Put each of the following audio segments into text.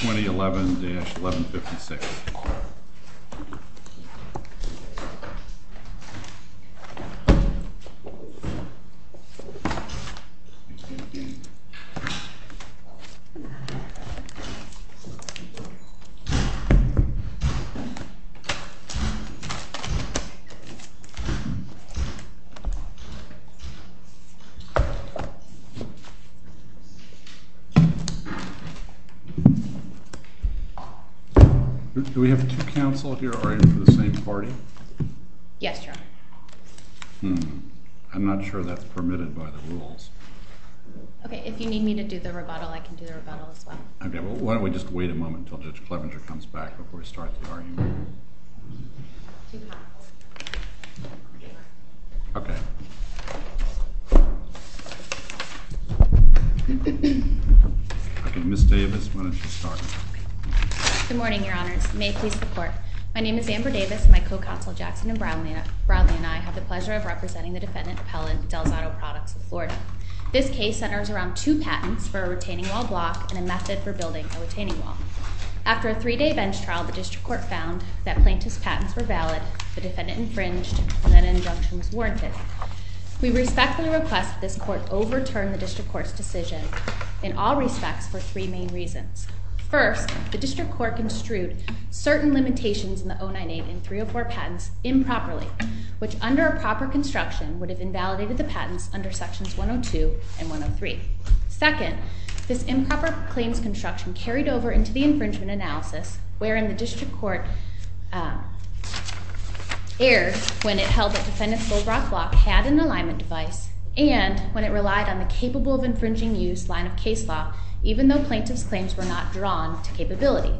2011-1156. Good morning, Your Honors. May it please the Court. My name is Amber Davis and my co-counsel Jackson and Brownlee and I have the pleasure of representing the defendant, Appellant DelZotto Products of Florida. This case centers around two patents for a retaining wall block and a method for building a retaining wall. After a three-day bench trial, the District Court found that Plaintiff's patents were valid, the defendant infringed, and that an injunction was warranted. We respectfully request that this Court overturn the District Court's decision in all respects for three main reasons. First, the District Court construed certain limitations in the 098 and 304 patents improperly, which under a proper construction would have invalidated the patents under Sections 102 and 103. Second, this improper claims construction carried over into the infringement analysis, wherein the District Court erred when it held that the defendant's bull rock block had an alignment device, and when it relied on the capable of infringing use line of case law, even though Plaintiff's claims were not drawn to capability.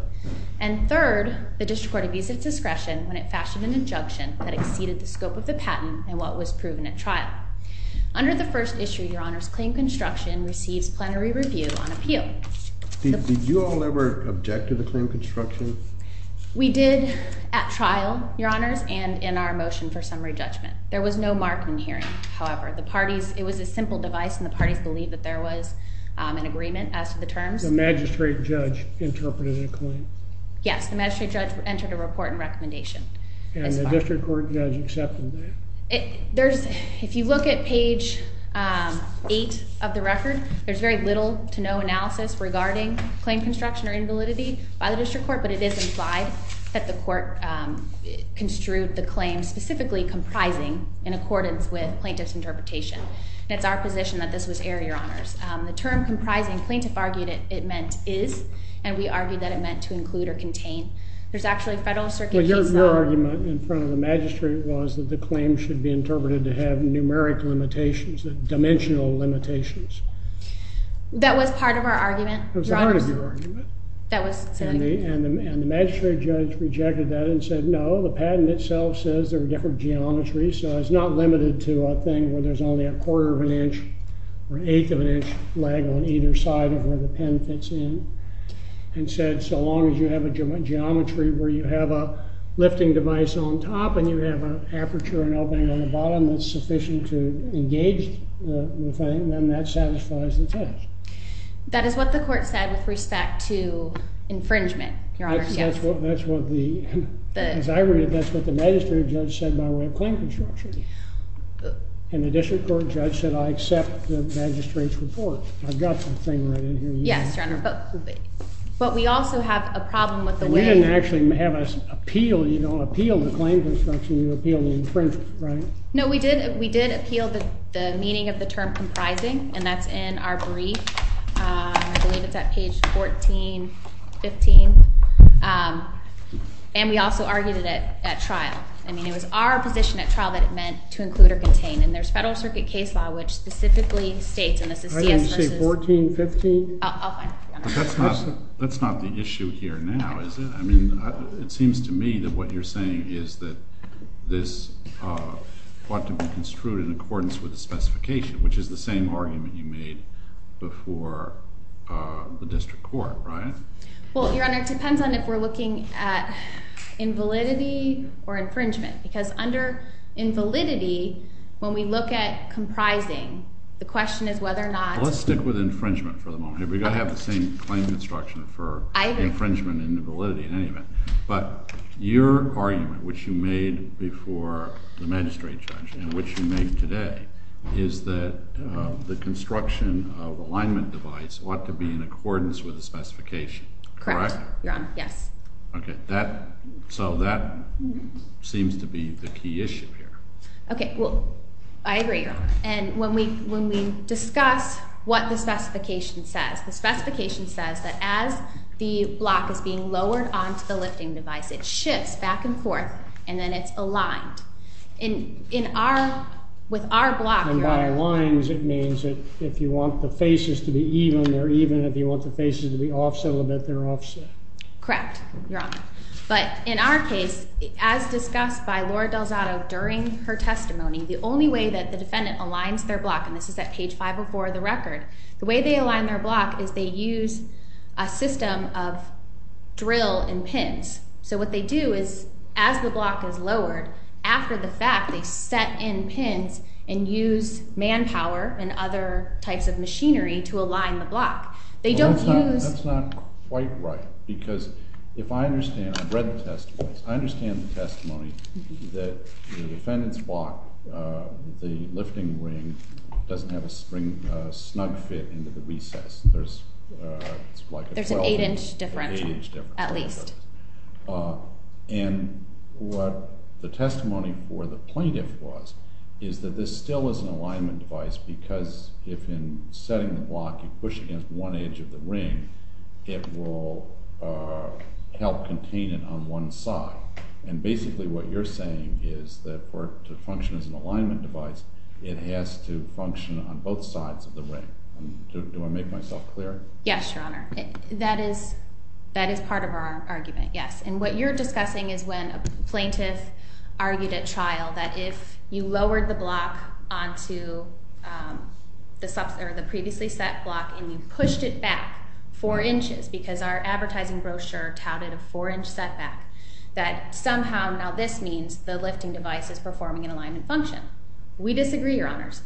And third, the District Court abused its discretion when it fashioned an injunction that exceeded the scope of the patent in what was proven at trial. Under the first issue, Your Honors, claim construction receives plenary review on appeal. Did you all ever object to the claim construction? We did at trial, Your Honors, and in our motion for summary judgment. There was no mark in the hearing, however. The parties, it was a simple device, and the parties believed that there was an agreement as to the terms. The magistrate judge interpreted the claim? Yes, the magistrate judge entered a report and recommendation. And the District Court judge accepted that? If you look at page 8 of the record, there's very little to no analysis regarding claim construction or invalidity by the District Court, but it is implied that the court construed the claim specifically comprising in accordance with Plaintiff's interpretation. It's our position that this was error, Your Honors. The term comprising, Plaintiff argued it meant is, and we argued that it meant to include or contain. Your argument in front of the magistrate was that the claim should be interpreted to have numeric limitations, dimensional limitations. That was part of our argument? That was part of your argument. And the magistrate judge rejected that and said, no, the patent itself says there are different geometries, so it's not limited to a thing where there's only a quarter of an inch or an eighth of an inch lag on either side of where the pen fits in. And said, so long as you have a geometry where you have a lifting device on top and you have an aperture and opening on the bottom that's sufficient to engage the thing, then that satisfies the test. That is what the court said with respect to infringement, Your Honors. That's what the, as I read it, that's what the magistrate judge said by way of claim construction. And the District Court judge said, I accept the magistrate's report. I've got the thing right in here. Yes, Your Honor. But we also have a problem with the way We didn't actually have us appeal the claim construction. You appealed the infringement, right? No, we did appeal the meaning of the term comprising, and that's in our brief. I believe it's at page 1415. And we also argued it at trial. I mean, it was our position at trial that it meant to include or contain. And there's Federal Circuit case law, which specifically states, and this is CS versus I thought you said 1415. I'll find it for you, Your Honor. That's not the issue here now, is it? I mean, it seems to me that what you're saying is that this ought to be construed in accordance with the specification, which is the same argument you made before the District Court, right? Well, Your Honor, it depends on if we're looking at invalidity or infringement. Because under invalidity, when we look at comprising, the question is whether or not Well, let's stick with infringement for the moment. We've got to have the same claim construction for infringement and invalidity in any event. But your argument, which you made before the magistrate judge and which you made today, is that the construction of alignment device ought to be in accordance with the specification, correct? Correct, Your Honor, yes. Okay, so that seems to be the key issue here. Okay, well, I agree, Your Honor. And when we discuss what the specification says, the specification says that as the block is being lowered onto the lifting device, it shifts back and forth, and then it's aligned. And with our block, Your Honor, And by aligns, it means that if you want the faces to be even, they're even, and if you want the faces to be offset a little bit, they're offset. Correct, Your Honor. But in our case, as discussed by Laura DelZotto during her testimony, the only way that the defendant aligns their block, and this is at page 504 of the record, the way they align their block is they use a system of drill and pins. So what they do is, as the block is lowered, after the fact, they set in pins and use manpower and other types of machinery to align the block. That's not quite right, because if I understand, I've read the testimony, I understand the testimony that the defendant's block, the lifting ring, doesn't have a snug fit into the recess. There's an 8-inch differential, at least. And what the testimony for the plaintiff was is that this still is an alignment device because if in setting the block you push against one edge of the ring, it will help contain it on one side. And basically what you're saying is that for it to function as an alignment device, it has to function on both sides of the ring. Do I make myself clear? Yes, Your Honor. That is part of our argument, yes. And what you're discussing is when a plaintiff argued at trial that if you lowered the block onto the previously set block and you pushed it back 4 inches, because our advertising brochure touted a 4-inch setback, that somehow now this means the lifting device is performing an alignment function. We disagree, Your Honors.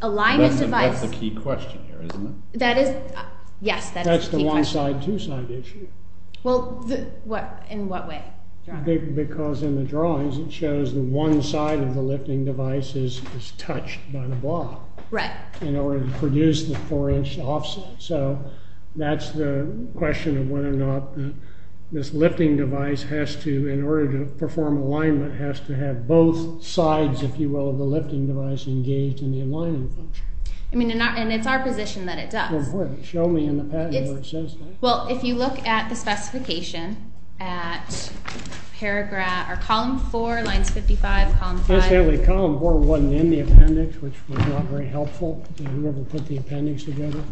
Alignment device. That's the key question here, isn't it? Yes, that is the key question. That's the one-side, two-side issue. Well, in what way? Because in the drawings it shows the one side of the lifting device is touched by the block. Right. In order to produce the 4-inch offset. So that's the question of whether or not this lifting device has to, in order to perform alignment, has to have both sides, if you will, of the lifting device engaged in the alignment function. And it's our position that it does. Show me in the patent where it says that. Well, if you look at the specification at paragraph or column 4, lines 55, column 5. Actually, column 4 wasn't in the appendix, which was not very helpful to whoever put the appendix together.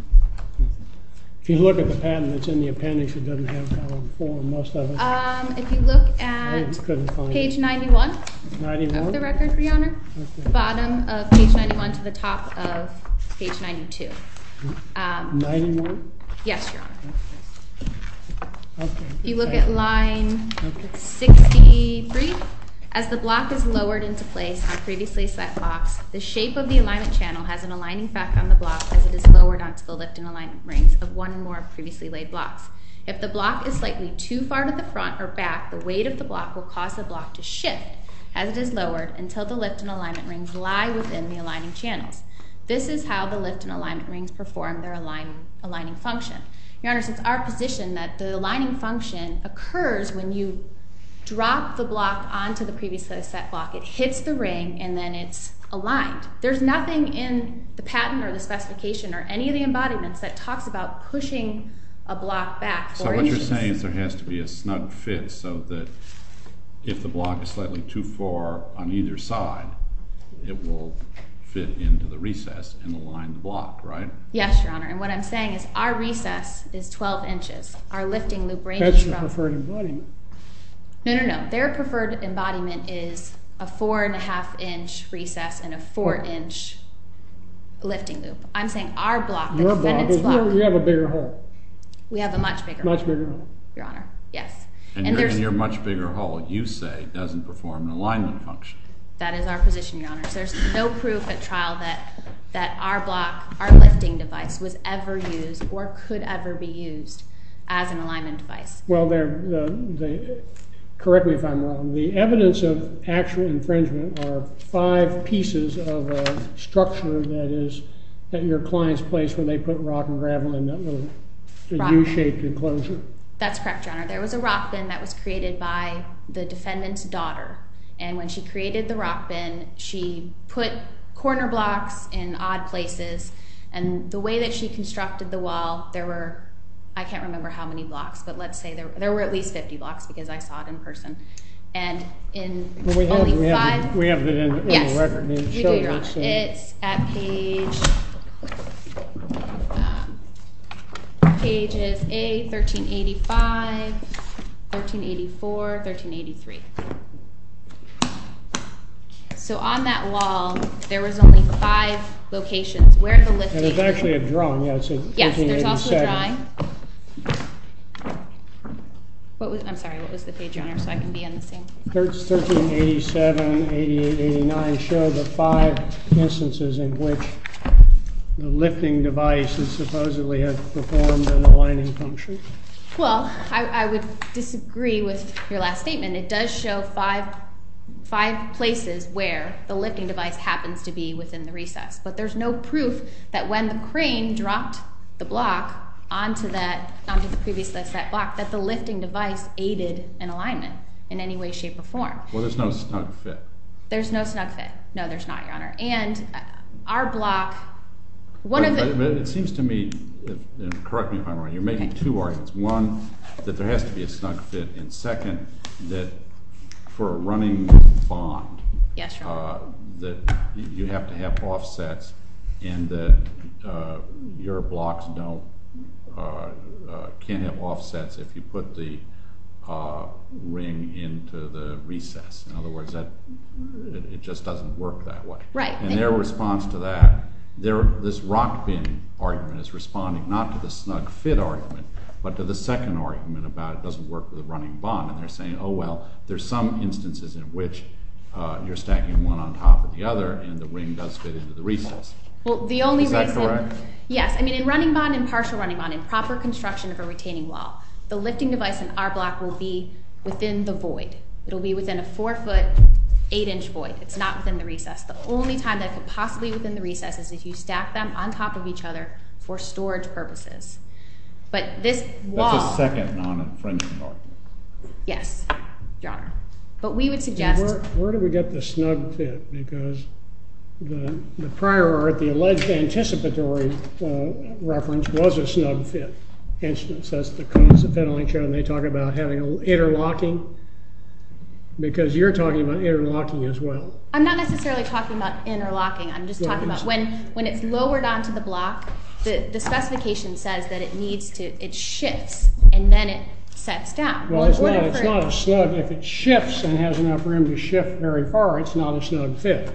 If you look at the patent that's in the appendix, it doesn't have column 4. Most of it. If you look at page 91 of the record, Your Honor, the bottom of page 91 to the top of page 92. 91? Yes, Your Honor. If you look at line 63, as the block is lowered into place on previously set blocks, the shape of the alignment channel has an aligning factor on the block as it is lowered onto the lift and alignment rings of one or more previously laid blocks. If the block is slightly too far to the front or back, the weight of the block will cause the block to shift as it is lowered until the lift and alignment rings lie within the aligning channels. This is how the lift and alignment rings perform their aligning function. Your Honor, it's our position that the aligning function occurs when you drop the block onto the previously set block. It hits the ring and then it's aligned. There's nothing in the patent or the specification or any of the embodiments that talks about pushing a block back. So what you're saying is there has to be a snug fit so that if the block is slightly too far on either side, it will fit into the recess and align the block, right? Yes, Your Honor, and what I'm saying is our recess is 12 inches. Our lifting loop ranges from... That's the preferred embodiment. No, no, no. Their preferred embodiment is a 4 1⁄2-inch recess and a 4-inch lifting loop. I'm saying our block, the defendant's block... Your block, but we have a bigger hole. We have a much bigger hole. Much bigger hole. Your Honor, yes. And your much bigger hole, you say, doesn't perform an alignment function. That is our position, Your Honor. There's no proof at trial that our block, our lifting device, was ever used or could ever be used as an alignment device. Well, correct me if I'm wrong. The evidence of actual infringement are five pieces of a structure that is at your client's place when they put rock and gravel in that little U-shaped enclosure. That's correct, Your Honor. There was a rock bin that was created by the defendant's daughter, and when she created the rock bin, she put corner blocks in odd places, and the way that she constructed the wall, there were, I can't remember how many blocks, but let's say there were at least 50 blocks because I saw it in person. And in only five... We have it in the record. Yes, we do, Your Honor. It's at page A, 1385, 1384, 1383. So on that wall, there was only five locations where the lifting... And there's actually a drawing. Yes, there's also a drawing. I'm sorry, what was the page, Your Honor, so I can be on the same page? 1387, 88, 89 show the five instances in which the lifting device supposedly had performed an aligning function. Well, I would disagree with your last statement. It does show five places where the lifting device happens to be within the recess, but there's no proof that when the crane dropped the block onto that, onto the previous set block, that the lifting device aided in alignment in any way, shape, or form. Well, there's no snug fit. There's no snug fit. No, there's not, Your Honor. And our block, one of the... It seems to me, and correct me if I'm wrong, you're making two arguments. One, that there has to be a snug fit, and second, that for a running bond, that you have to have offsets and that your blocks can't have offsets if you put the ring into the recess. In other words, it just doesn't work that way. Right. And their response to that, this Rockbin argument is responding not to the snug fit argument, but to the second argument about it doesn't work with a running bond, and they're saying, oh, well, there's some instances in which you're stacking one on top of the other and the ring does fit into the recess. Well, the only reason... Is that correct? Yes. I mean, in running bond, in partial running bond, in proper construction of a retaining wall, the lifting device in our block will be within the void. It'll be within a four-foot, eight-inch void. It's not within the recess. The only time that it could possibly be within the recess is if you stack them on top of each other for storage purposes. But this wall... That's a second non-infringement argument. Yes, Your Honor. But we would suggest... Where do we get the snug fit? Because the prior art, the alleged anticipatory reference, was a snug fit instance. That's the cause of fiddling, and they talk about having interlocking, because you're talking about interlocking as well. I'm not necessarily talking about interlocking. I'm just talking about when it's lowered onto the block, the specification says that it needs to... It shifts, and then it sets down. Well, it's not a snug... If it shifts and has enough room to shift very far, it's not a snug fit.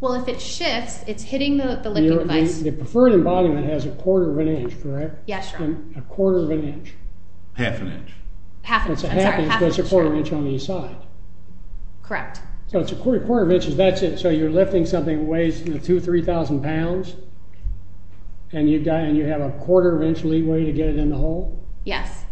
Well, if it shifts, it's hitting the lifting device. The preferred embodiment has a quarter of an inch, correct? Yes, Your Honor. A quarter of an inch. Half an inch. Half an inch, I'm sorry. It's a half inch, but it's a quarter of an inch on each side. Correct. So it's a quarter of an inch, and that's it. So you're lifting something that weighs 2,000, 3,000 pounds, and you have a quarter of an inch leeway to get it in the hole? Yes,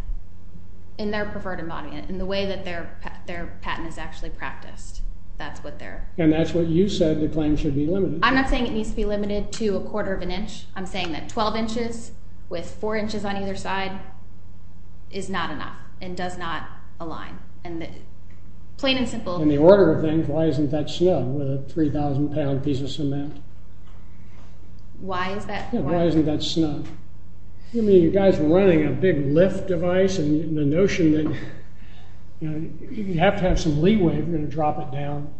in their preferred embodiment, in the way that their patent is actually practiced. That's what they're... And that's what you said the claim should be limited to. I'm not saying it needs to be limited to a quarter of an inch. I'm saying that 12 inches with 4 inches on either side is not enough and does not align. And the plain and simple... In the order of things, why isn't that snug with a 3,000-pound piece of cement? Why is that... Yeah, why isn't that snug? You guys are running a big lift device, and the notion that you have to have some leeway if you're going to drop it down.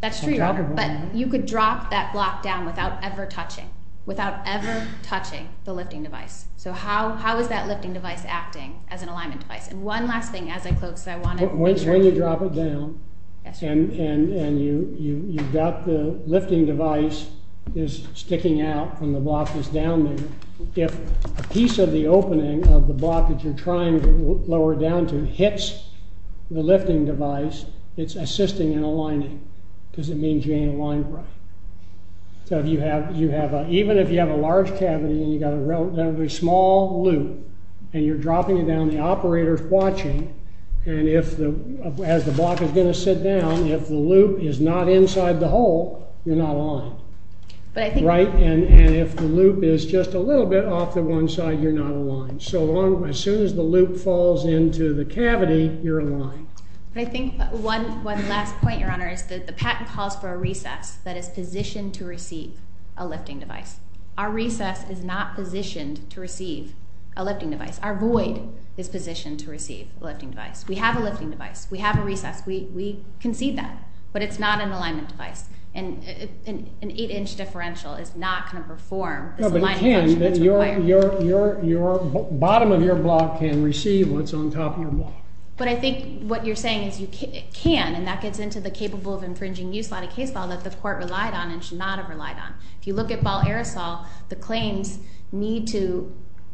That's true, but you could drop that block down without ever touching, without ever touching the lifting device. So how is that lifting device acting as an alignment device? And one last thing as I close. When you drop it down and you've got the lifting device is sticking out from the block that's down there, if a piece of the opening of the block that you're trying to lower it down to hits the lifting device, it's assisting in aligning because it means you ain't aligned right. So even if you have a large cavity and you've got a relatively small loop and you're dropping it down, the operator's watching, and as the block is going to sit down, if the loop is not inside the hole, you're not aligned. And if the loop is just a little bit off to one side, you're not aligned. So as soon as the loop falls into the cavity, you're aligned. I think one last point, Your Honor, is that the patent calls for a recess that is positioned to receive a lifting device. Our recess is not positioned to receive a lifting device. Our void is positioned to receive a lifting device. We have a lifting device. We have a recess. We concede that, but it's not an alignment device. An 8-inch differential is not going to perform this aligning function. No, but it can. Your bottom of your block can receive what's on top of your block. But I think what you're saying is it can, and that gets into the capable of infringing use line of case law that the court relied on and should not have relied on. If you look at ball aerosol, the claims need to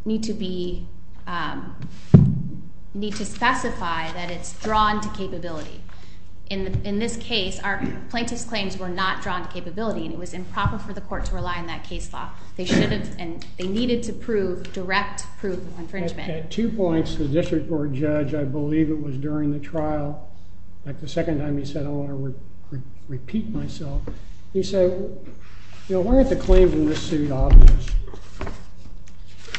be need to specify that it's drawn to capability. In this case, our plaintiff's claims were not drawn to capability, and it was improper for the court to rely on that case law. They should have, and they needed to prove direct proof of infringement. At two points, the district court judge, I believe it was during the trial, like the second time he said, I don't want to repeat myself, he said, you know, why aren't the claims in this suit obvious?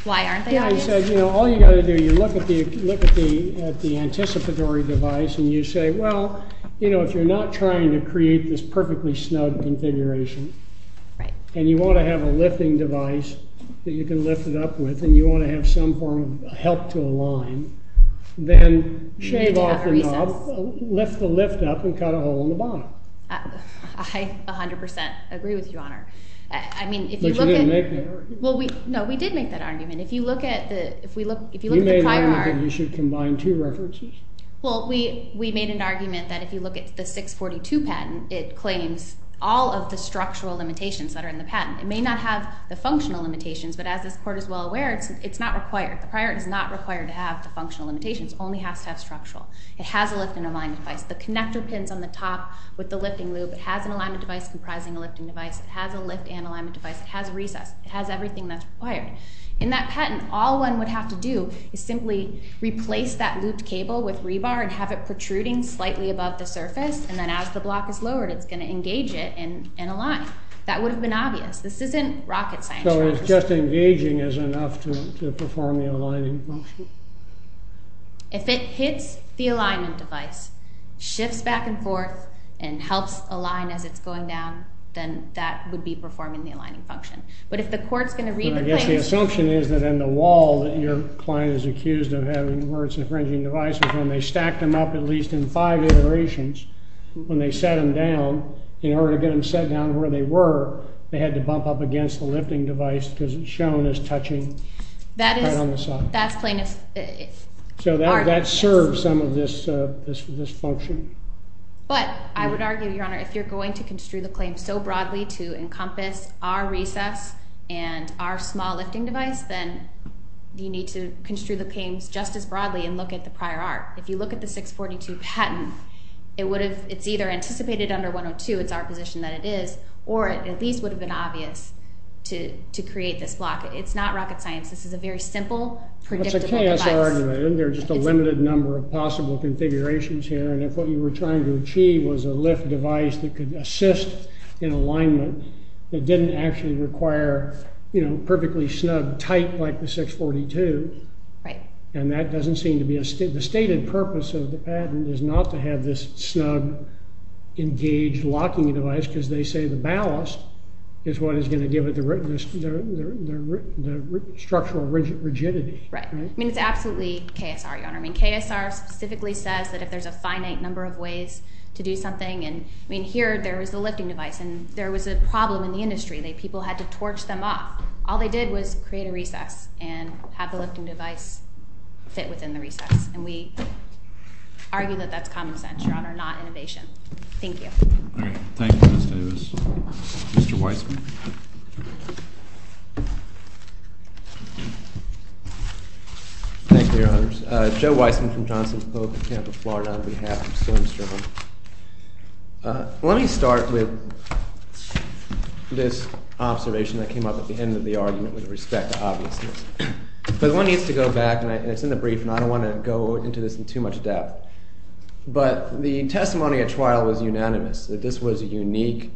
Why aren't they obvious? Yeah, he said, you know, all you've got to do, you look at the anticipatory device, and you say, well, you know, if you're not trying to create this perfectly snug configuration, and you want to have a lifting device that you can lift it up with, and you want to have some form of help to align, then shave off the knob, lift the lift up, and cut a hole in the bottom. I 100% agree with you, Your Honor. But you didn't make that argument. No, we did make that argument. If you look at the prior article... You made the argument that you should combine two references? Well, we made an argument that if you look at the 642 patent, it claims all of the structural limitations that are in the patent. It may not have the functional limitations, but as this court is well aware, it's not required. The prior art is not required to have the functional limitations. It only has to have structural. It has a lift and alignment device. The connector pins on the top with the lifting loop, it has an alignment device comprising a lifting device. It has a lift and alignment device. It has a recess. It has everything that's required. In that patent, all one would have to do is simply replace that looped cable with rebar and have it protruding slightly above the surface, and then as the block is lowered, it's going to engage it and align. That would have been obvious. This isn't rocket science, Your Honor. So it's just engaging is enough to perform the aligning function? If it hits the alignment device, shifts back and forth, and helps align as it's going down, then that would be performing the aligning function. But if the court's going to read the claims... But I guess the assumption is that in the wall that your client is accused of having where it's infringing devices, when they stack them up at least in five iterations, when they set them down, in order to get them set down where they were, they had to bump up against the lifting device because it's shown as touching right on the side. That's plaintiff's argument. So that serves some of this function. But I would argue, Your Honor, if you're going to construe the claim so broadly to encompass our recess and our small lifting device, then you need to construe the claims just as broadly and look at the prior art. If you look at the 642 patent, it's either anticipated under 102, it's our position that it is, or it at least would have been obvious to create this block. It's not rocket science. This is a very simple, predictable device. That's a chaos argument. There are just a limited number of possible configurations here. And if what you were trying to achieve was a lift device that could assist in alignment that didn't actually require perfectly snug, tight, like the 642, and that doesn't seem to be a stated purpose of the patent, is not to have this snug, engaged locking device because they say the ballast is what is going to give it the structural rigidity. Right. I mean, it's absolutely KSR, Your Honor. I mean, KSR specifically says that if there's a finite number of ways to do something, and, I mean, here there was a lifting device and there was a problem in the industry. People had to torch them up. All they did was create a recess and have the lifting device fit within the recess, and we argue that that's common sense, Your Honor, not innovation. Thank you. All right. Thank you, Ms. Davis. Mr. Weissman. Thank you, Your Honors. Joe Weissman from Johnson's Polk in Tampa, Florida, on behalf. I'm still in strife. Let me start with this observation that came up at the end of the argument with respect to obviousness. But one needs to go back, and it's in the brief, and I don't want to go into this in too much depth. But the testimony at trial was unanimous, that this was a unique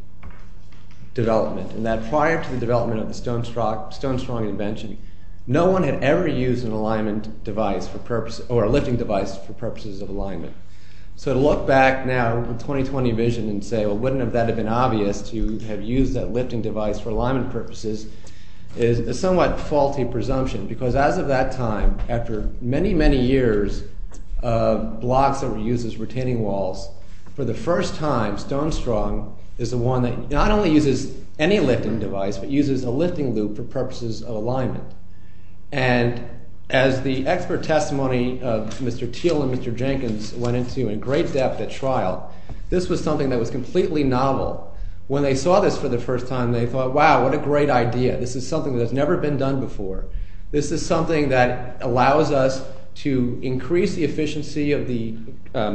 development, and that prior to the development of the Stonestrong invention, no one had ever used an alignment device for purpose or a lifting device for purposes of alignment. So to look back now with 20-20 vision and say, well, wouldn't that have been obvious to have used that lifting device for alignment purposes is a somewhat faulty presumption because as of that time, after many, many years of blocks that were used as retaining walls, for the first time, Stonestrong is the one that not only uses any lifting device but uses a lifting loop for purposes of alignment. And as the expert testimony of Mr. Thiel and Mr. Jenkins went into in great depth at trial, this was something that was completely novel. When they saw this for the first time, they thought, wow, what a great idea. This is something that has never been done before. This is something that allows us to increase the efficiency of the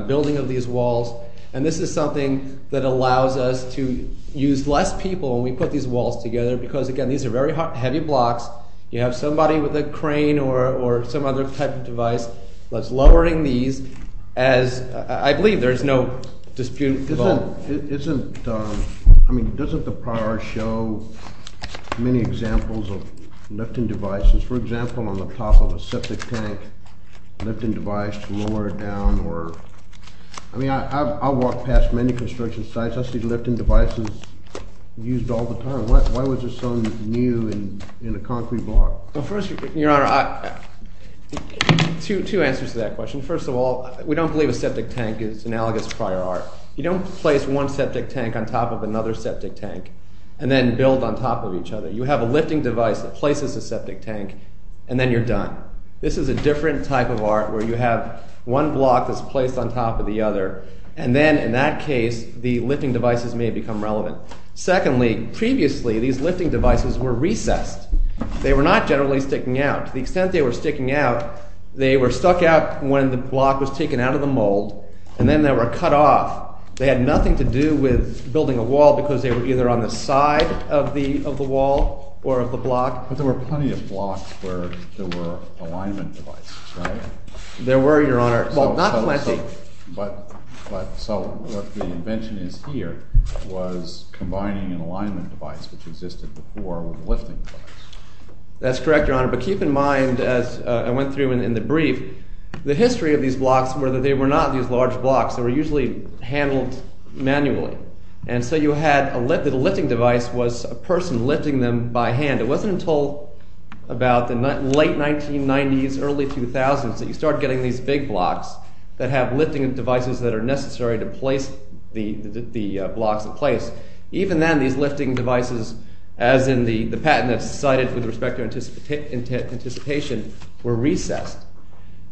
building of these walls, and this is something that allows us to use less people when we put these walls together because, again, these are very heavy blocks. You have somebody with a crane or some other type of device that's lowering these as I believe there's no dispute about. Isn't the prior show many examples of lifting devices, for example, on the top of a septic tank lifting device to lower it down? I mean I've walked past many construction sites. I see lifting devices used all the time. Why was there something new in a concrete block? Well, first, Your Honor, two answers to that question. First of all, we don't believe a septic tank is analogous to prior art. You don't place one septic tank on top of another septic tank and then build on top of each other. You have a lifting device that places a septic tank, and then you're done. This is a different type of art where you have one block that's placed on top of the other, and then in that case the lifting devices may become relevant. Secondly, previously these lifting devices were recessed. They were not generally sticking out. To the extent they were sticking out, they were stuck out when the block was taken out of the mold, and then they were cut off. They had nothing to do with building a wall because they were either on the side of the wall or of the block. But there were plenty of blocks where there were alignment devices, right? There were, Your Honor, but not plenty. So what the invention is here was combining an alignment device which existed before with a lifting device. That's correct, Your Honor, but keep in mind, as I went through in the brief, the history of these blocks were that they were not these large blocks. They were usually handled manually, and so you had a lifting device was a person lifting them by hand. It wasn't until about the late 1990s, early 2000s, that you start getting these big blocks that have lifting devices that are necessary to place the blocks in place. Even then, these lifting devices, as in the patent that's cited with respect to anticipation, were recessed.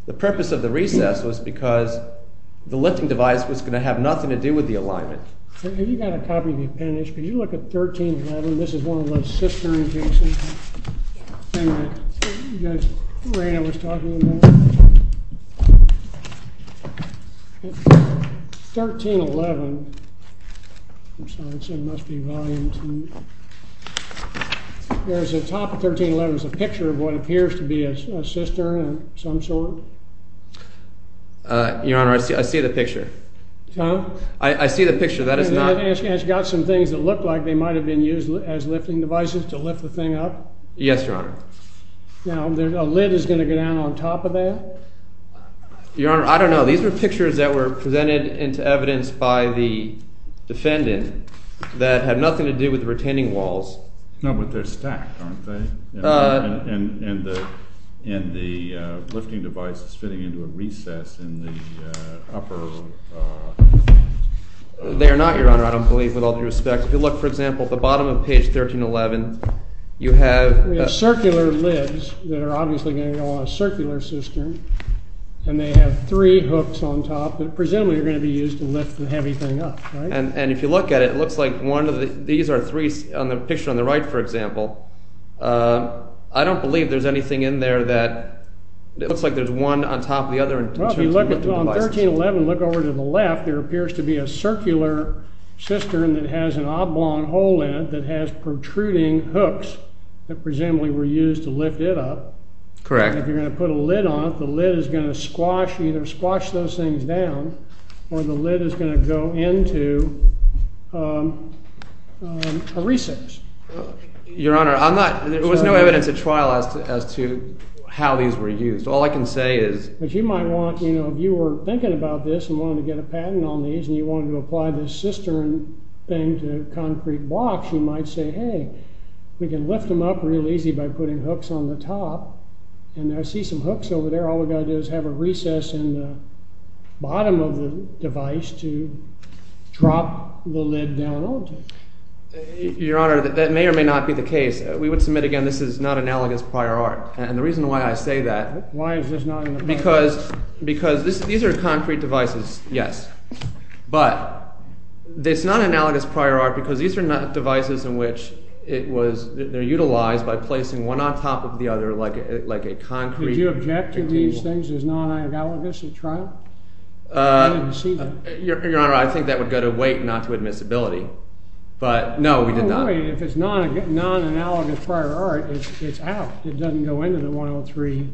The purpose of the recess was because the lifting device was going to have nothing to do with the alignment. Have you got a copy of the appendix? Could you look at 1311? This is one of those cistern cases. The thing that Reina was talking about. It's 1311. I'm sorry, it must be volume 2. There's a top of 1311. There's a picture of what appears to be a cistern of some sort. Your Honor, I see the picture. I see the picture. That is not... And it's got some things that look like they might have been used as lifting devices to lift the thing up? Yes, Your Honor. Now, a lid is going to go down on top of that? Your Honor, I don't know. These are pictures that were presented into evidence by the defendant that had nothing to do with retaining walls. No, but they're stacked, aren't they? And the lifting device is fitting into a recess in the upper... They are not, Your Honor, I don't believe, with all due respect. If you look, for example, at the bottom of page 1311, you have... Circular lids that are obviously going to go on a circular cistern, and they have three hooks on top that presumably are going to be used to lift the heavy thing up, right? And if you look at it, it looks like one of the... These are three, on the picture on the right, for example. I don't believe there's anything in there that... It looks like there's one on top of the other in terms of lifting devices. Well, if you look on 1311, look over to the left, there appears to be a circular cistern that has an oblong hole in it that has protruding hooks that presumably were used to lift it up. Correct. If you're going to put a lid on it, the lid is going to squash, either squash those things down, or the lid is going to go into a recess. Your Honor, I'm not... There was no evidence at trial as to how these were used. All I can say is... But you might want, you know, if you were thinking about this and wanted to get a patent on these, and you wanted to apply this cistern thing to concrete blocks, you might say, hey, we can lift them up real easy by putting hooks on the top. And I see some hooks over there. All we've got to do is have a recess in the bottom of the device to drop the lid down onto. Your Honor, that may or may not be the case. We would submit, again, this is not analogous prior art. And the reason why I say that... Why is this not in the patent? Because these are concrete devices, yes. But it's not analogous prior art because these are not devices in which it was... They're utilized by placing one on top of the other like a concrete... Did you object to these things as non-analogous at trial? I didn't see that. Your Honor, I think that would go to weight, not to admissibility. But, no, we did not... If it's non-analogous prior art, it's out. It doesn't go into the 103.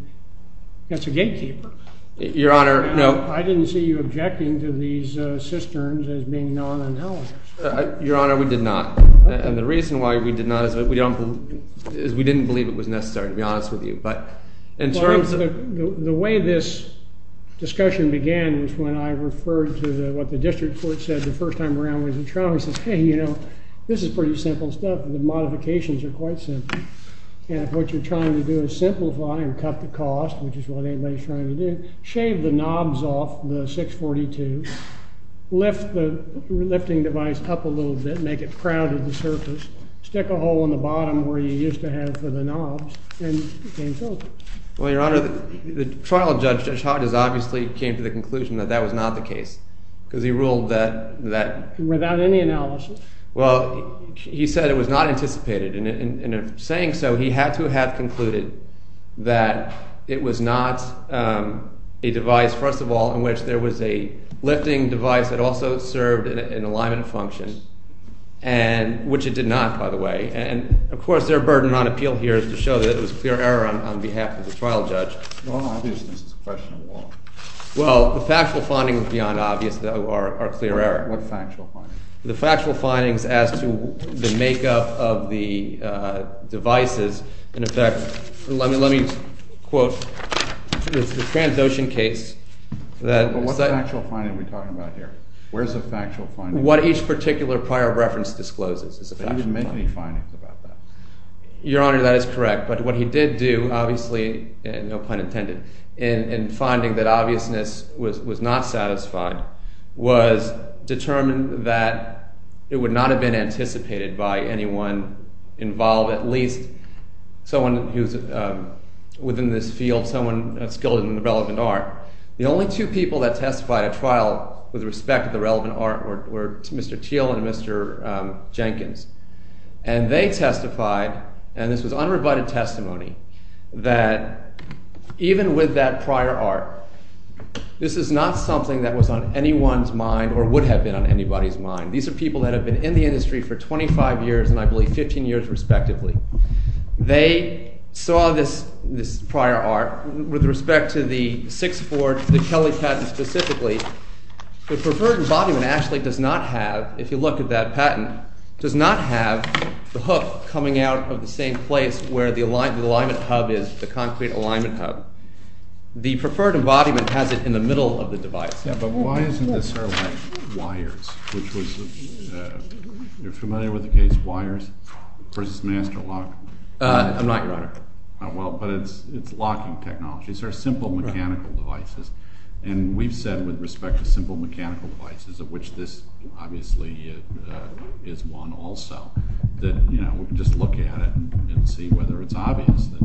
That's a gatekeeper. Your Honor, no... I didn't see you objecting to these cisterns as being non-analogous. Your Honor, we did not. And the reason why we did not is we didn't believe it was necessary, to be honest with you. The way this discussion began is when I referred to what the district court said the first time around when it was at trial. It says, hey, you know, this is pretty simple stuff. The modifications are quite simple. And if what you're trying to do is simplify and cut the cost, which is what anybody's trying to do, shave the knobs off the 642, lift the lifting device up a little bit, make it crowded to the surface, stick a hole in the bottom where you used to have for the knobs, and it became filtered. Well, Your Honor, the trial judge, Judge Hodges, obviously came to the conclusion that that was not the case because he ruled that... Without any analysis. Well, he said it was not anticipated. And in saying so, he had to have concluded that it was not a device, first of all, in which there was a lifting device that also served an alignment function, which it did not, by the way. And, of course, their burden on appeal here is to show that it was clear error on behalf of the trial judge. Well, obviousness is a question of law. Well, the factual findings beyond obvious, though, are clear error. What factual findings? The factual findings as to the makeup of the devices. In effect, let me quote. It's the Transocean case that... But what factual finding are we talking about here? Where's the factual finding? What each particular prior reference discloses is a factual finding. But he didn't make any findings about that. Your Honor, that is correct, but what he did do, obviously, and no pun intended, in finding that obviousness was not satisfied was determine that it would not have been anticipated by anyone involved, at least someone who's within this field, someone skilled in the relevant art. The only two people that testified at trial with respect to the relevant art were Mr. Thiel and Mr. Jenkins. And they testified, and this was unrevited testimony, that even with that prior art, this is not something that was on anyone's mind or would have been on anybody's mind. These are people that have been in the industry for 25 years, and I believe 15 years respectively. They saw this prior art. With respect to the 6-4, the Kelly patent specifically, the preferred embodiment actually does not have, if you look at that patent, does not have the hook coming out of the same place where the alignment hub is, the concrete alignment hub. The preferred embodiment has it in the middle of the device. Yeah, but why isn't this sort of like wires? You're familiar with the case wires versus master lock? I'm not, Your Honor. Well, but it's locking technology. These are simple mechanical devices. And we've said with respect to simple mechanical devices, of which this obviously is one also, that we can just look at it and see whether it's obvious that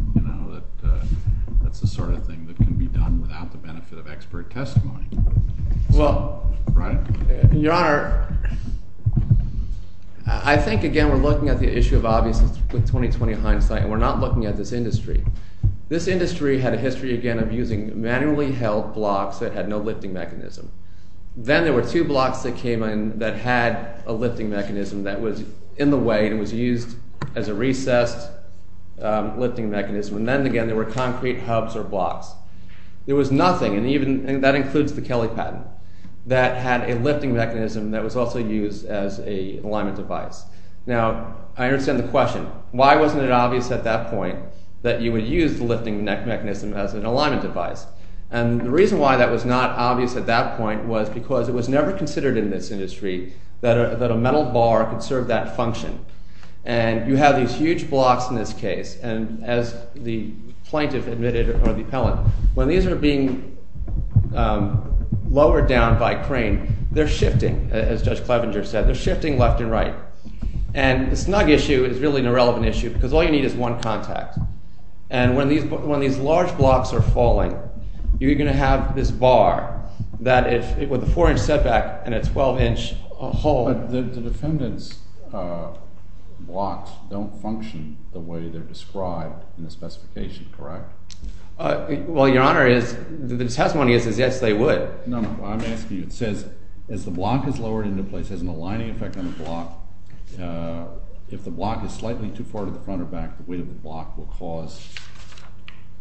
that's the sort of thing that can be done without the benefit of expert testimony. Well, Your Honor, I think, again, we're looking at the issue of obviousness with 2020 hindsight, and we're not looking at this industry. This industry had a history, again, of using manually held blocks that had no lifting mechanism. Then there were two blocks that came in that had a lifting mechanism that was in the way and was used as a recessed lifting mechanism. And then, again, there were concrete hubs or blocks. There was nothing, and that includes the Kelly patent, that had a lifting mechanism that was also used as an alignment device. Now, I understand the question. Why wasn't it obvious at that point that you would use the lifting mechanism as an alignment device? And the reason why that was not obvious at that point was because it was never considered in this industry that a metal bar could serve that function. And you have these huge blocks in this case, and as the plaintiff admitted, or the appellant, when these are being lowered down by crane, they're shifting, as Judge Clevenger said. They're shifting left and right. And the snug issue is really an irrelevant issue because all you need is one contact. And when these large blocks are falling, you're going to have this bar that, with a 4-inch setback and a 12-inch hold... Well, Your Honor, the testimony is, yes, they would. No, I'm asking you, it says, as the block is lowered into place, it has an aligning effect on the block. If the block is slightly too far to the front or back, the weight of the block will cause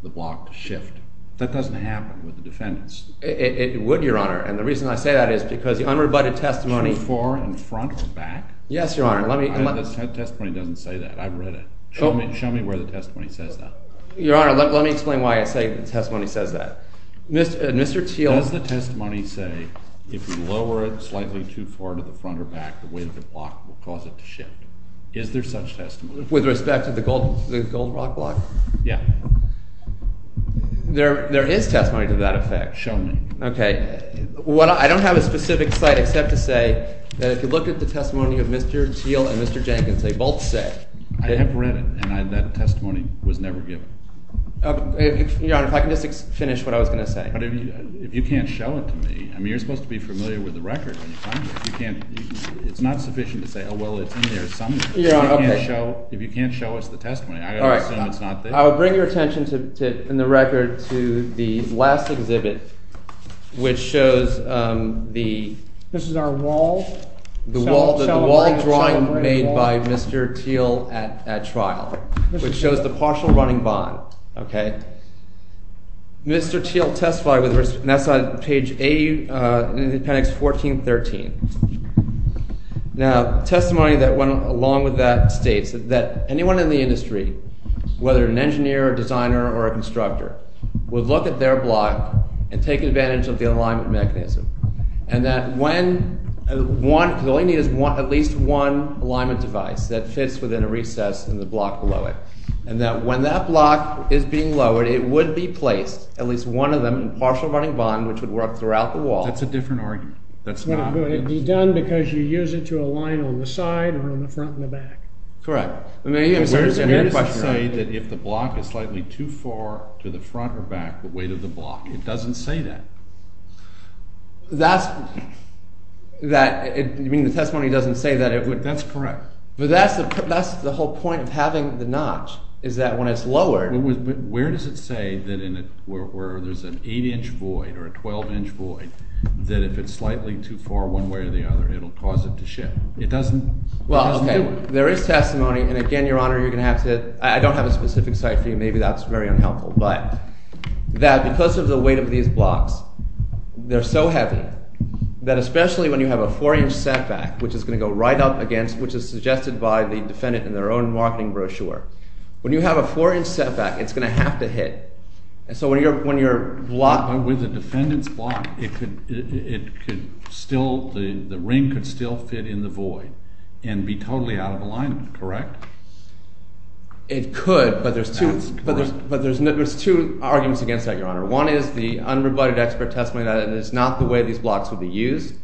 the block to shift. That doesn't happen with the defendants. It would, Your Honor, and the reason I say that is because the unrebutted testimony... Should it be far in front or back? Yes, Your Honor. That testimony doesn't say that. I've read it. Show me where the testimony says that. Your Honor, let me explain why I say the testimony says that. Mr. Teel... Does the testimony say, if you lower it slightly too far to the front or back, the weight of the block will cause it to shift? Is there such testimony? With respect to the Gold Rock block? Yeah. There is testimony to that effect. Show me. Okay. I don't have a specific site except to say that if you look at the testimony of Mr. Teel and Mr. Jenkins, they both say... I have read it, and that testimony was never given. Your Honor, if I could just finish what I was going to say. But if you can't show it to me... I mean, you're supposed to be familiar with the record when you find it. It's not sufficient to say, oh, well, it's in there somewhere. If you can't show us the testimony, I've got to assume it's not there. I will bring your attention in the record to the last exhibit, which shows the... This is our wall? The wall drawing made by Mr. Teel at trial, which shows the partial running bond. Okay? Mr. Teel testified with respect... And that's on page 80 in Appendix 1413. Now, testimony that went along with that states that anyone in the industry, whether an engineer, a designer, or a constructor, would look at their block and take advantage of the alignment mechanism, and that when one... The only need is at least one alignment device that fits within a recess in the block below it, and that when that block is being lowered, it would be placed, at least one of them, in partial running bond, which would work throughout the wall. That's a different argument. That's not... Would it be done because you use it to align on the side or on the front and the back? Correct. I'm going to say that if the block is slightly too far to the front or back, the weight of the block, it doesn't say that. That's... That... You mean the testimony doesn't say that it would... That's correct. But that's the whole point of having the notch, is that when it's lowered... Where does it say that in a... Where there's an 8-inch void or a 12-inch void that if it's slightly too far one way or the other, it'll cause it to shift? It doesn't... Well, okay, there is testimony, and again, Your Honor, you're going to have to... I don't have a specific site for you. Maybe that's very unhelpful, but that because of the weight of these blocks, they're so heavy, that especially when you have a 4-inch setback, which is going to go right up against, which is suggested by the defendant in their own marketing brochure, when you have a 4-inch setback, it's going to have to hit. And so when your block... With a defendant's block, it could still... The ring could still fit in the void and be totally out of alignment, correct? It could, but there's two... But there's two arguments against that, Your Honor. One is the unrebutted expert testimony that it's not the way these blocks would be used,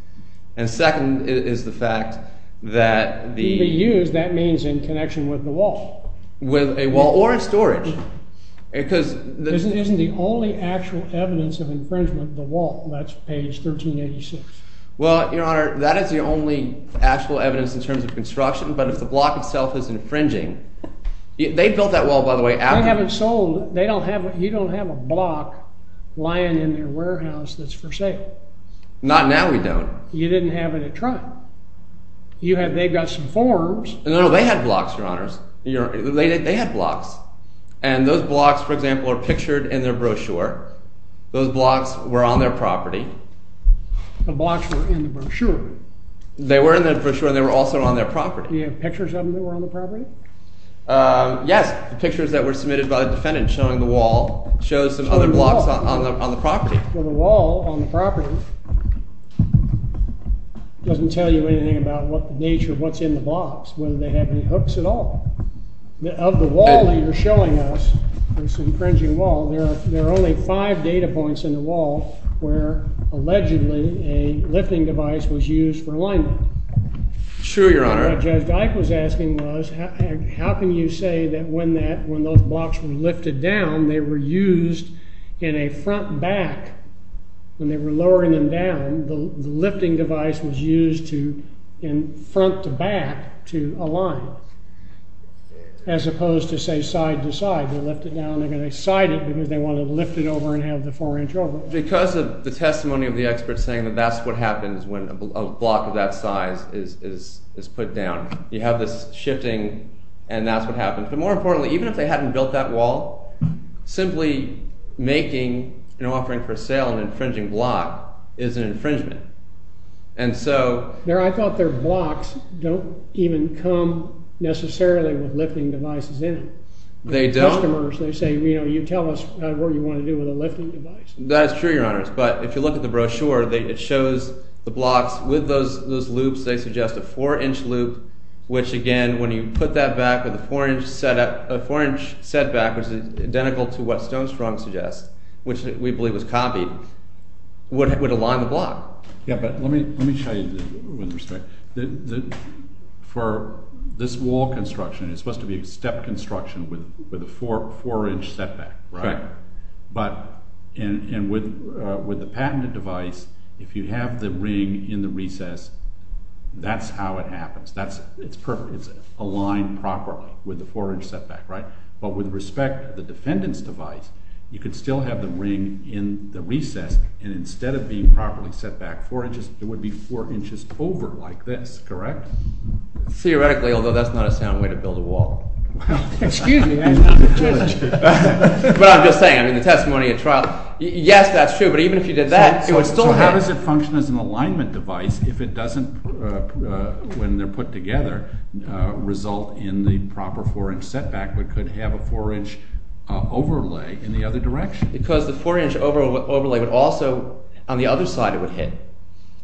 and second is the fact that the... To be used, that means in connection with the wall. With a wall or in storage, because... This isn't the only actual evidence of infringement, the wall, that's page 1386. Well, Your Honor, that is the only actual evidence in terms of construction, but if the block itself is infringing... They built that wall, by the way, after... I haven't sold... You don't have a block lying in their warehouse that's for sale. Not now we don't. You didn't have it at trial. They've got some forms... No, they had blocks, Your Honors. They had blocks. And those blocks, for example, are pictured in their brochure. Those blocks were on their property. The blocks were in the brochure. They were in the brochure, and they were also on their property. Do you have pictures of them that were on the property? Yes, pictures that were submitted by the defendant showing the wall, shows some other blocks on the property. Well, the wall on the property doesn't tell you anything about the nature of what's in the blocks, whether they have any hooks at all. Of the wall that you're showing us, this infringing wall, there are only five data points in the wall where, allegedly, a lifting device was used for alignment. Sure, Your Honor. What Judge Ike was asking was, how can you say that when those blocks were lifted down, they were used in a front-back, when they were lowering them down, the lifting device was used in front-to-back to align, as opposed to, say, side-to-side. They lift it down, and they're going to side it because they want to lift it over and have the 4-inch over it. Because of the testimony of the experts saying that that's what happens when a block of that size is put down. You have this shifting, and that's what happens. But more importantly, even if they hadn't built that wall, simply making an offering for sale an infringing block is an infringement. And so... I thought their blocks don't even come necessarily with lifting devices in them. They don't. Customers, they say, you tell us what you want to do with a lifting device. That's true, Your Honors. But if you look at the brochure, it shows the blocks with those loops. They suggest a 4-inch loop, which, again, when you put that back with a 4-inch setback, which is identical to what Stonestrong suggests, which we believe was copied, would align the block. Yeah, but let me show you with respect. For this wall construction, with a 4-inch setback, right? Correct. And with the patented device, if you have the ring in the recess, that's how it happens. It's perfect. It's aligned properly with the 4-inch setback, right? But with respect to the defendant's device, you could still have the ring in the recess, and instead of being properly set back 4 inches, it would be 4 inches over like this, correct? Theoretically, although that's not a sound way to build a wall. Excuse me, Your Honor. But I'm just saying, I mean, the testimony at trial, yes, that's true, but even if you did that, it would still happen. So how does it function as an alignment device if it doesn't, when they're put together, result in the proper 4-inch setback but could have a 4-inch overlay in the other direction? Because the 4-inch overlay would also, on the other side, it would hit.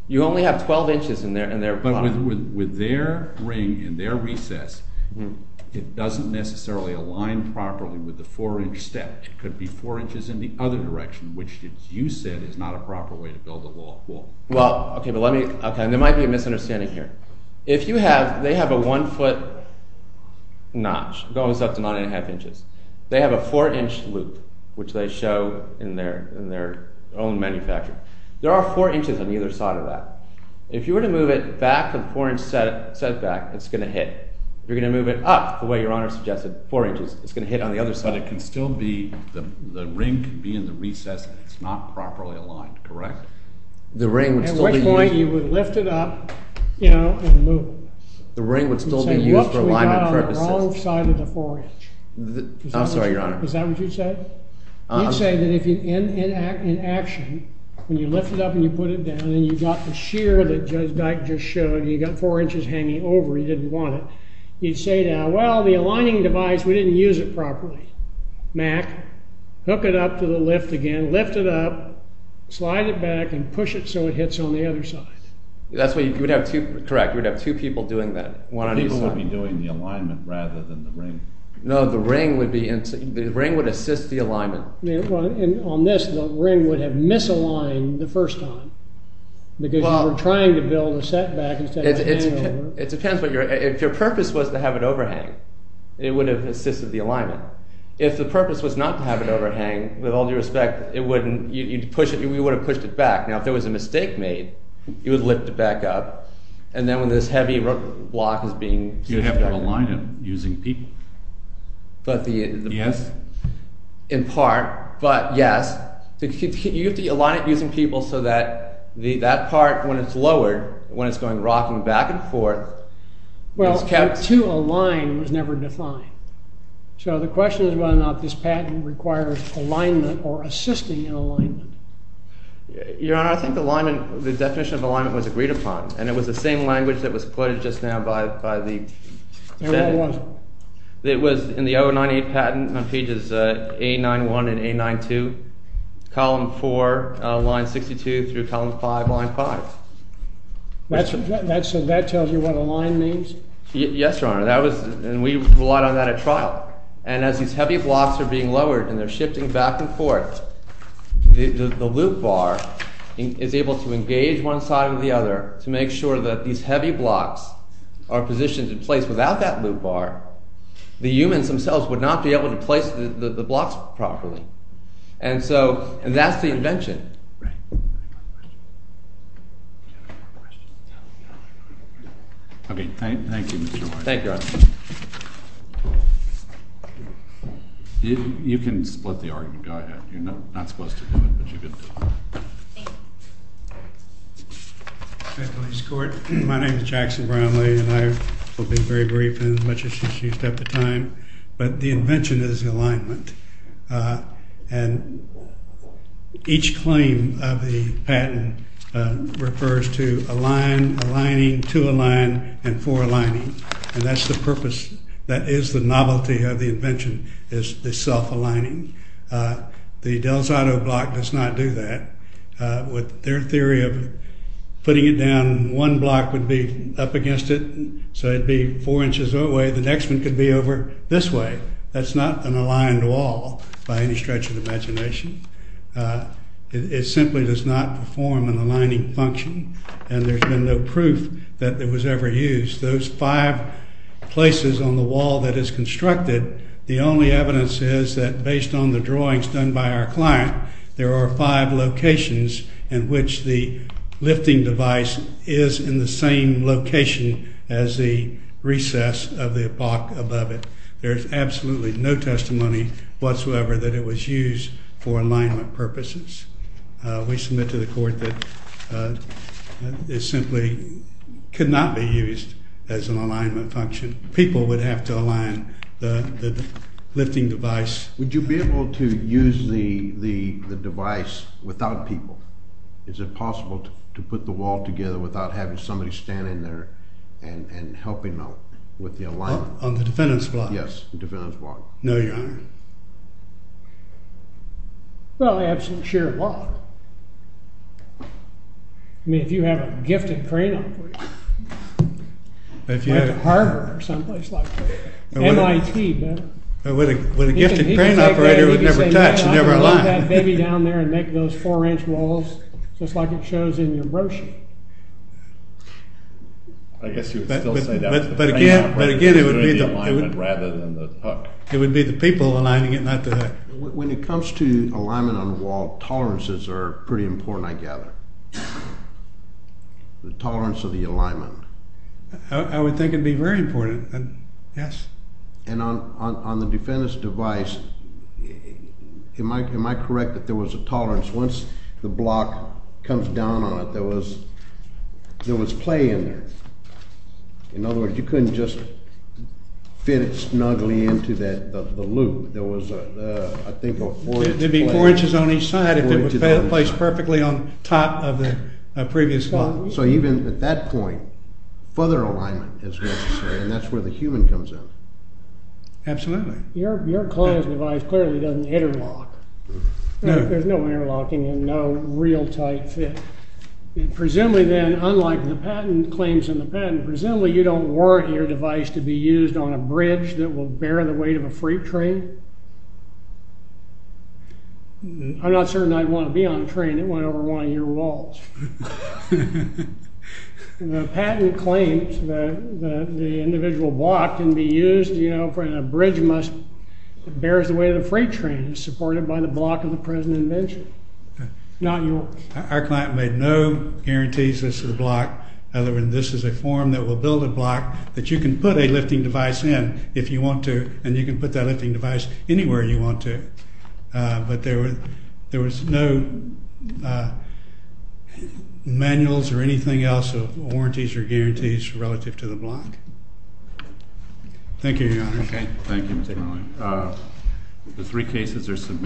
You only have 12 inches in there. But with their ring in their recess, it doesn't necessarily align properly with the 4-inch step. It could be 4 inches in the other direction, which, as you said, is not a proper way to build a wall. Well, okay, but let me, okay, and there might be a misunderstanding here. If you have, they have a 1-foot notch that goes up to 9 1⁄2 inches. They have a 4-inch loop, which they show in their own manufacture. There are 4 inches on either side of that. If you were to move it back a 4-inch setback, it's going to hit. If you're going to move it up, the way Your Honor suggested, 4 inches, it's going to hit on the other side. But it can still be, the ring can be in the recess, and it's not properly aligned, correct? The ring would still be used... At which point you would lift it up, you know, and move it. The ring would still be used for alignment purposes. You're saying whoops, we got it on the wrong side of the 4-inch. I'm sorry, Your Honor. Is that what you said? You'd say that if in action, when you lift it up and you put it down and you've got the shear that Judge Dyke just showed, and you've got 4 inches hanging over, you didn't want it, you'd say, well, the aligning device, we didn't use it properly. Mack, hook it up to the lift again, lift it up, slide it back, and push it so it hits on the other side. That's why you would have two, correct, you would have two people doing that, one on each side. People would be doing the alignment rather than the ring. No, the ring would be, the ring would assist the alignment. And on this, the ring would have misaligned the first time. Because you were trying to build the setback instead of the hangover. It depends. If your purpose was to have it overhang, it would have assisted the alignment. If the purpose was not to have it overhang, with all due respect, it wouldn't, you'd push it, we would have pushed it back. Now, if there was a mistake made, you would lift it back up, and then when this heavy rock block is being... You'd have to align it using people. But the... Yes. In part, but yes. You have to align it using people so that that part, when it's lowered, when it's going rocking back and forth, is kept... Well, to align was never defined. So the question is whether or not this patent requires alignment or assisting in alignment. Your Honor, I think the definition of alignment was agreed upon, and it was the same language that was quoted just now by the... It really was. It was in the 098 patent on pages A91 and A92, column 4, line 62 through column 5, line 5. So that tells you what align means? Yes, Your Honor. And we relied on that at trial. And as these heavy blocks are being lowered and they're shifting back and forth, the loop bar is able to engage one side or the other to make sure that these heavy blocks are positioned in place. Without that loop bar, the humans themselves would not be able to place the blocks properly. And so that's the invention. Right. Okay, thank you, Mr. White. Thank you, Your Honor. You can split the argument. Go ahead. You're not supposed to do it, but you can do it. Thank you. Hi, police court. My name is Jackson Brownlee, and I will be very brief in as much as is used up the time. But the invention is alignment. And each claim of the patent refers to align, aligning, to align, and for aligning. And that's the purpose. That is the novelty of the invention is the self-aligning. The Del Zotto block does not do that. With their theory of putting it down, one block would be up against it, so it would be four inches away. The next one could be over this way. That's not an aligned wall by any stretch of the imagination. It simply does not perform an aligning function. And there's been no proof that it was ever used. Those five places on the wall that is constructed, the only evidence is that based on the drawings done by our client, there are five locations in which the lifting device is in the same location as the recess of the block above it. There's absolutely no testimony whatsoever that it was used for alignment purposes. We submit to the court that it simply could not be used as an alignment function. People would have to align the lifting device. Would you be able to use the device without people? Is it possible to put the wall together without having somebody stand in there and helping out with the alignment? On the defendant's block? Yes, the defendant's block. No, Your Honor. Well, the absolute sheer wall. I mean, if you have a gifted crane operator. If you had a harbor or someplace like that. MIT, better. But a gifted crane operator would never touch, never align. Put that baby down there and make those four-inch walls just like it shows in your brochure. I guess you would still say that. But again, it would be the people aligning it, not the... When it comes to alignment on the wall, tolerances are pretty important, I gather. The tolerance of the alignment. I would think it would be very important, yes. And on the defendant's device, am I correct that there was a tolerance? Once the block comes down on it, there was play in there. In other words, you couldn't just fit it snugly into the loop. There was, I think, a four-inch play. It would be four inches on each side if it was placed perfectly on top of the previous block. So even at that point, further alignment is necessary, and that's where the human comes in. Absolutely. Your client's device clearly doesn't interlock. There's no interlocking and no real tight fit. Presumably then, unlike the patent claims in the patent, presumably you don't warrant your device to be used on a bridge that will bear the weight of a freight train. I'm not certain I'd want to be on a train that went over one of your walls. The patent claims that the individual block can be used, you know, for a bridge that bears the weight of a freight train and is supported by the block of the present invention, not yours. Our client made no guarantees as to the block. In other words, this is a form that will build a block that you can put a lifting device in if you want to, and you can put that lifting device anywhere you want to. But there was no manuals or anything else of warranties or guarantees relative to the block. Thank you, Your Honor. Okay. Thank you, Mr. Marlin. The three cases are submitted.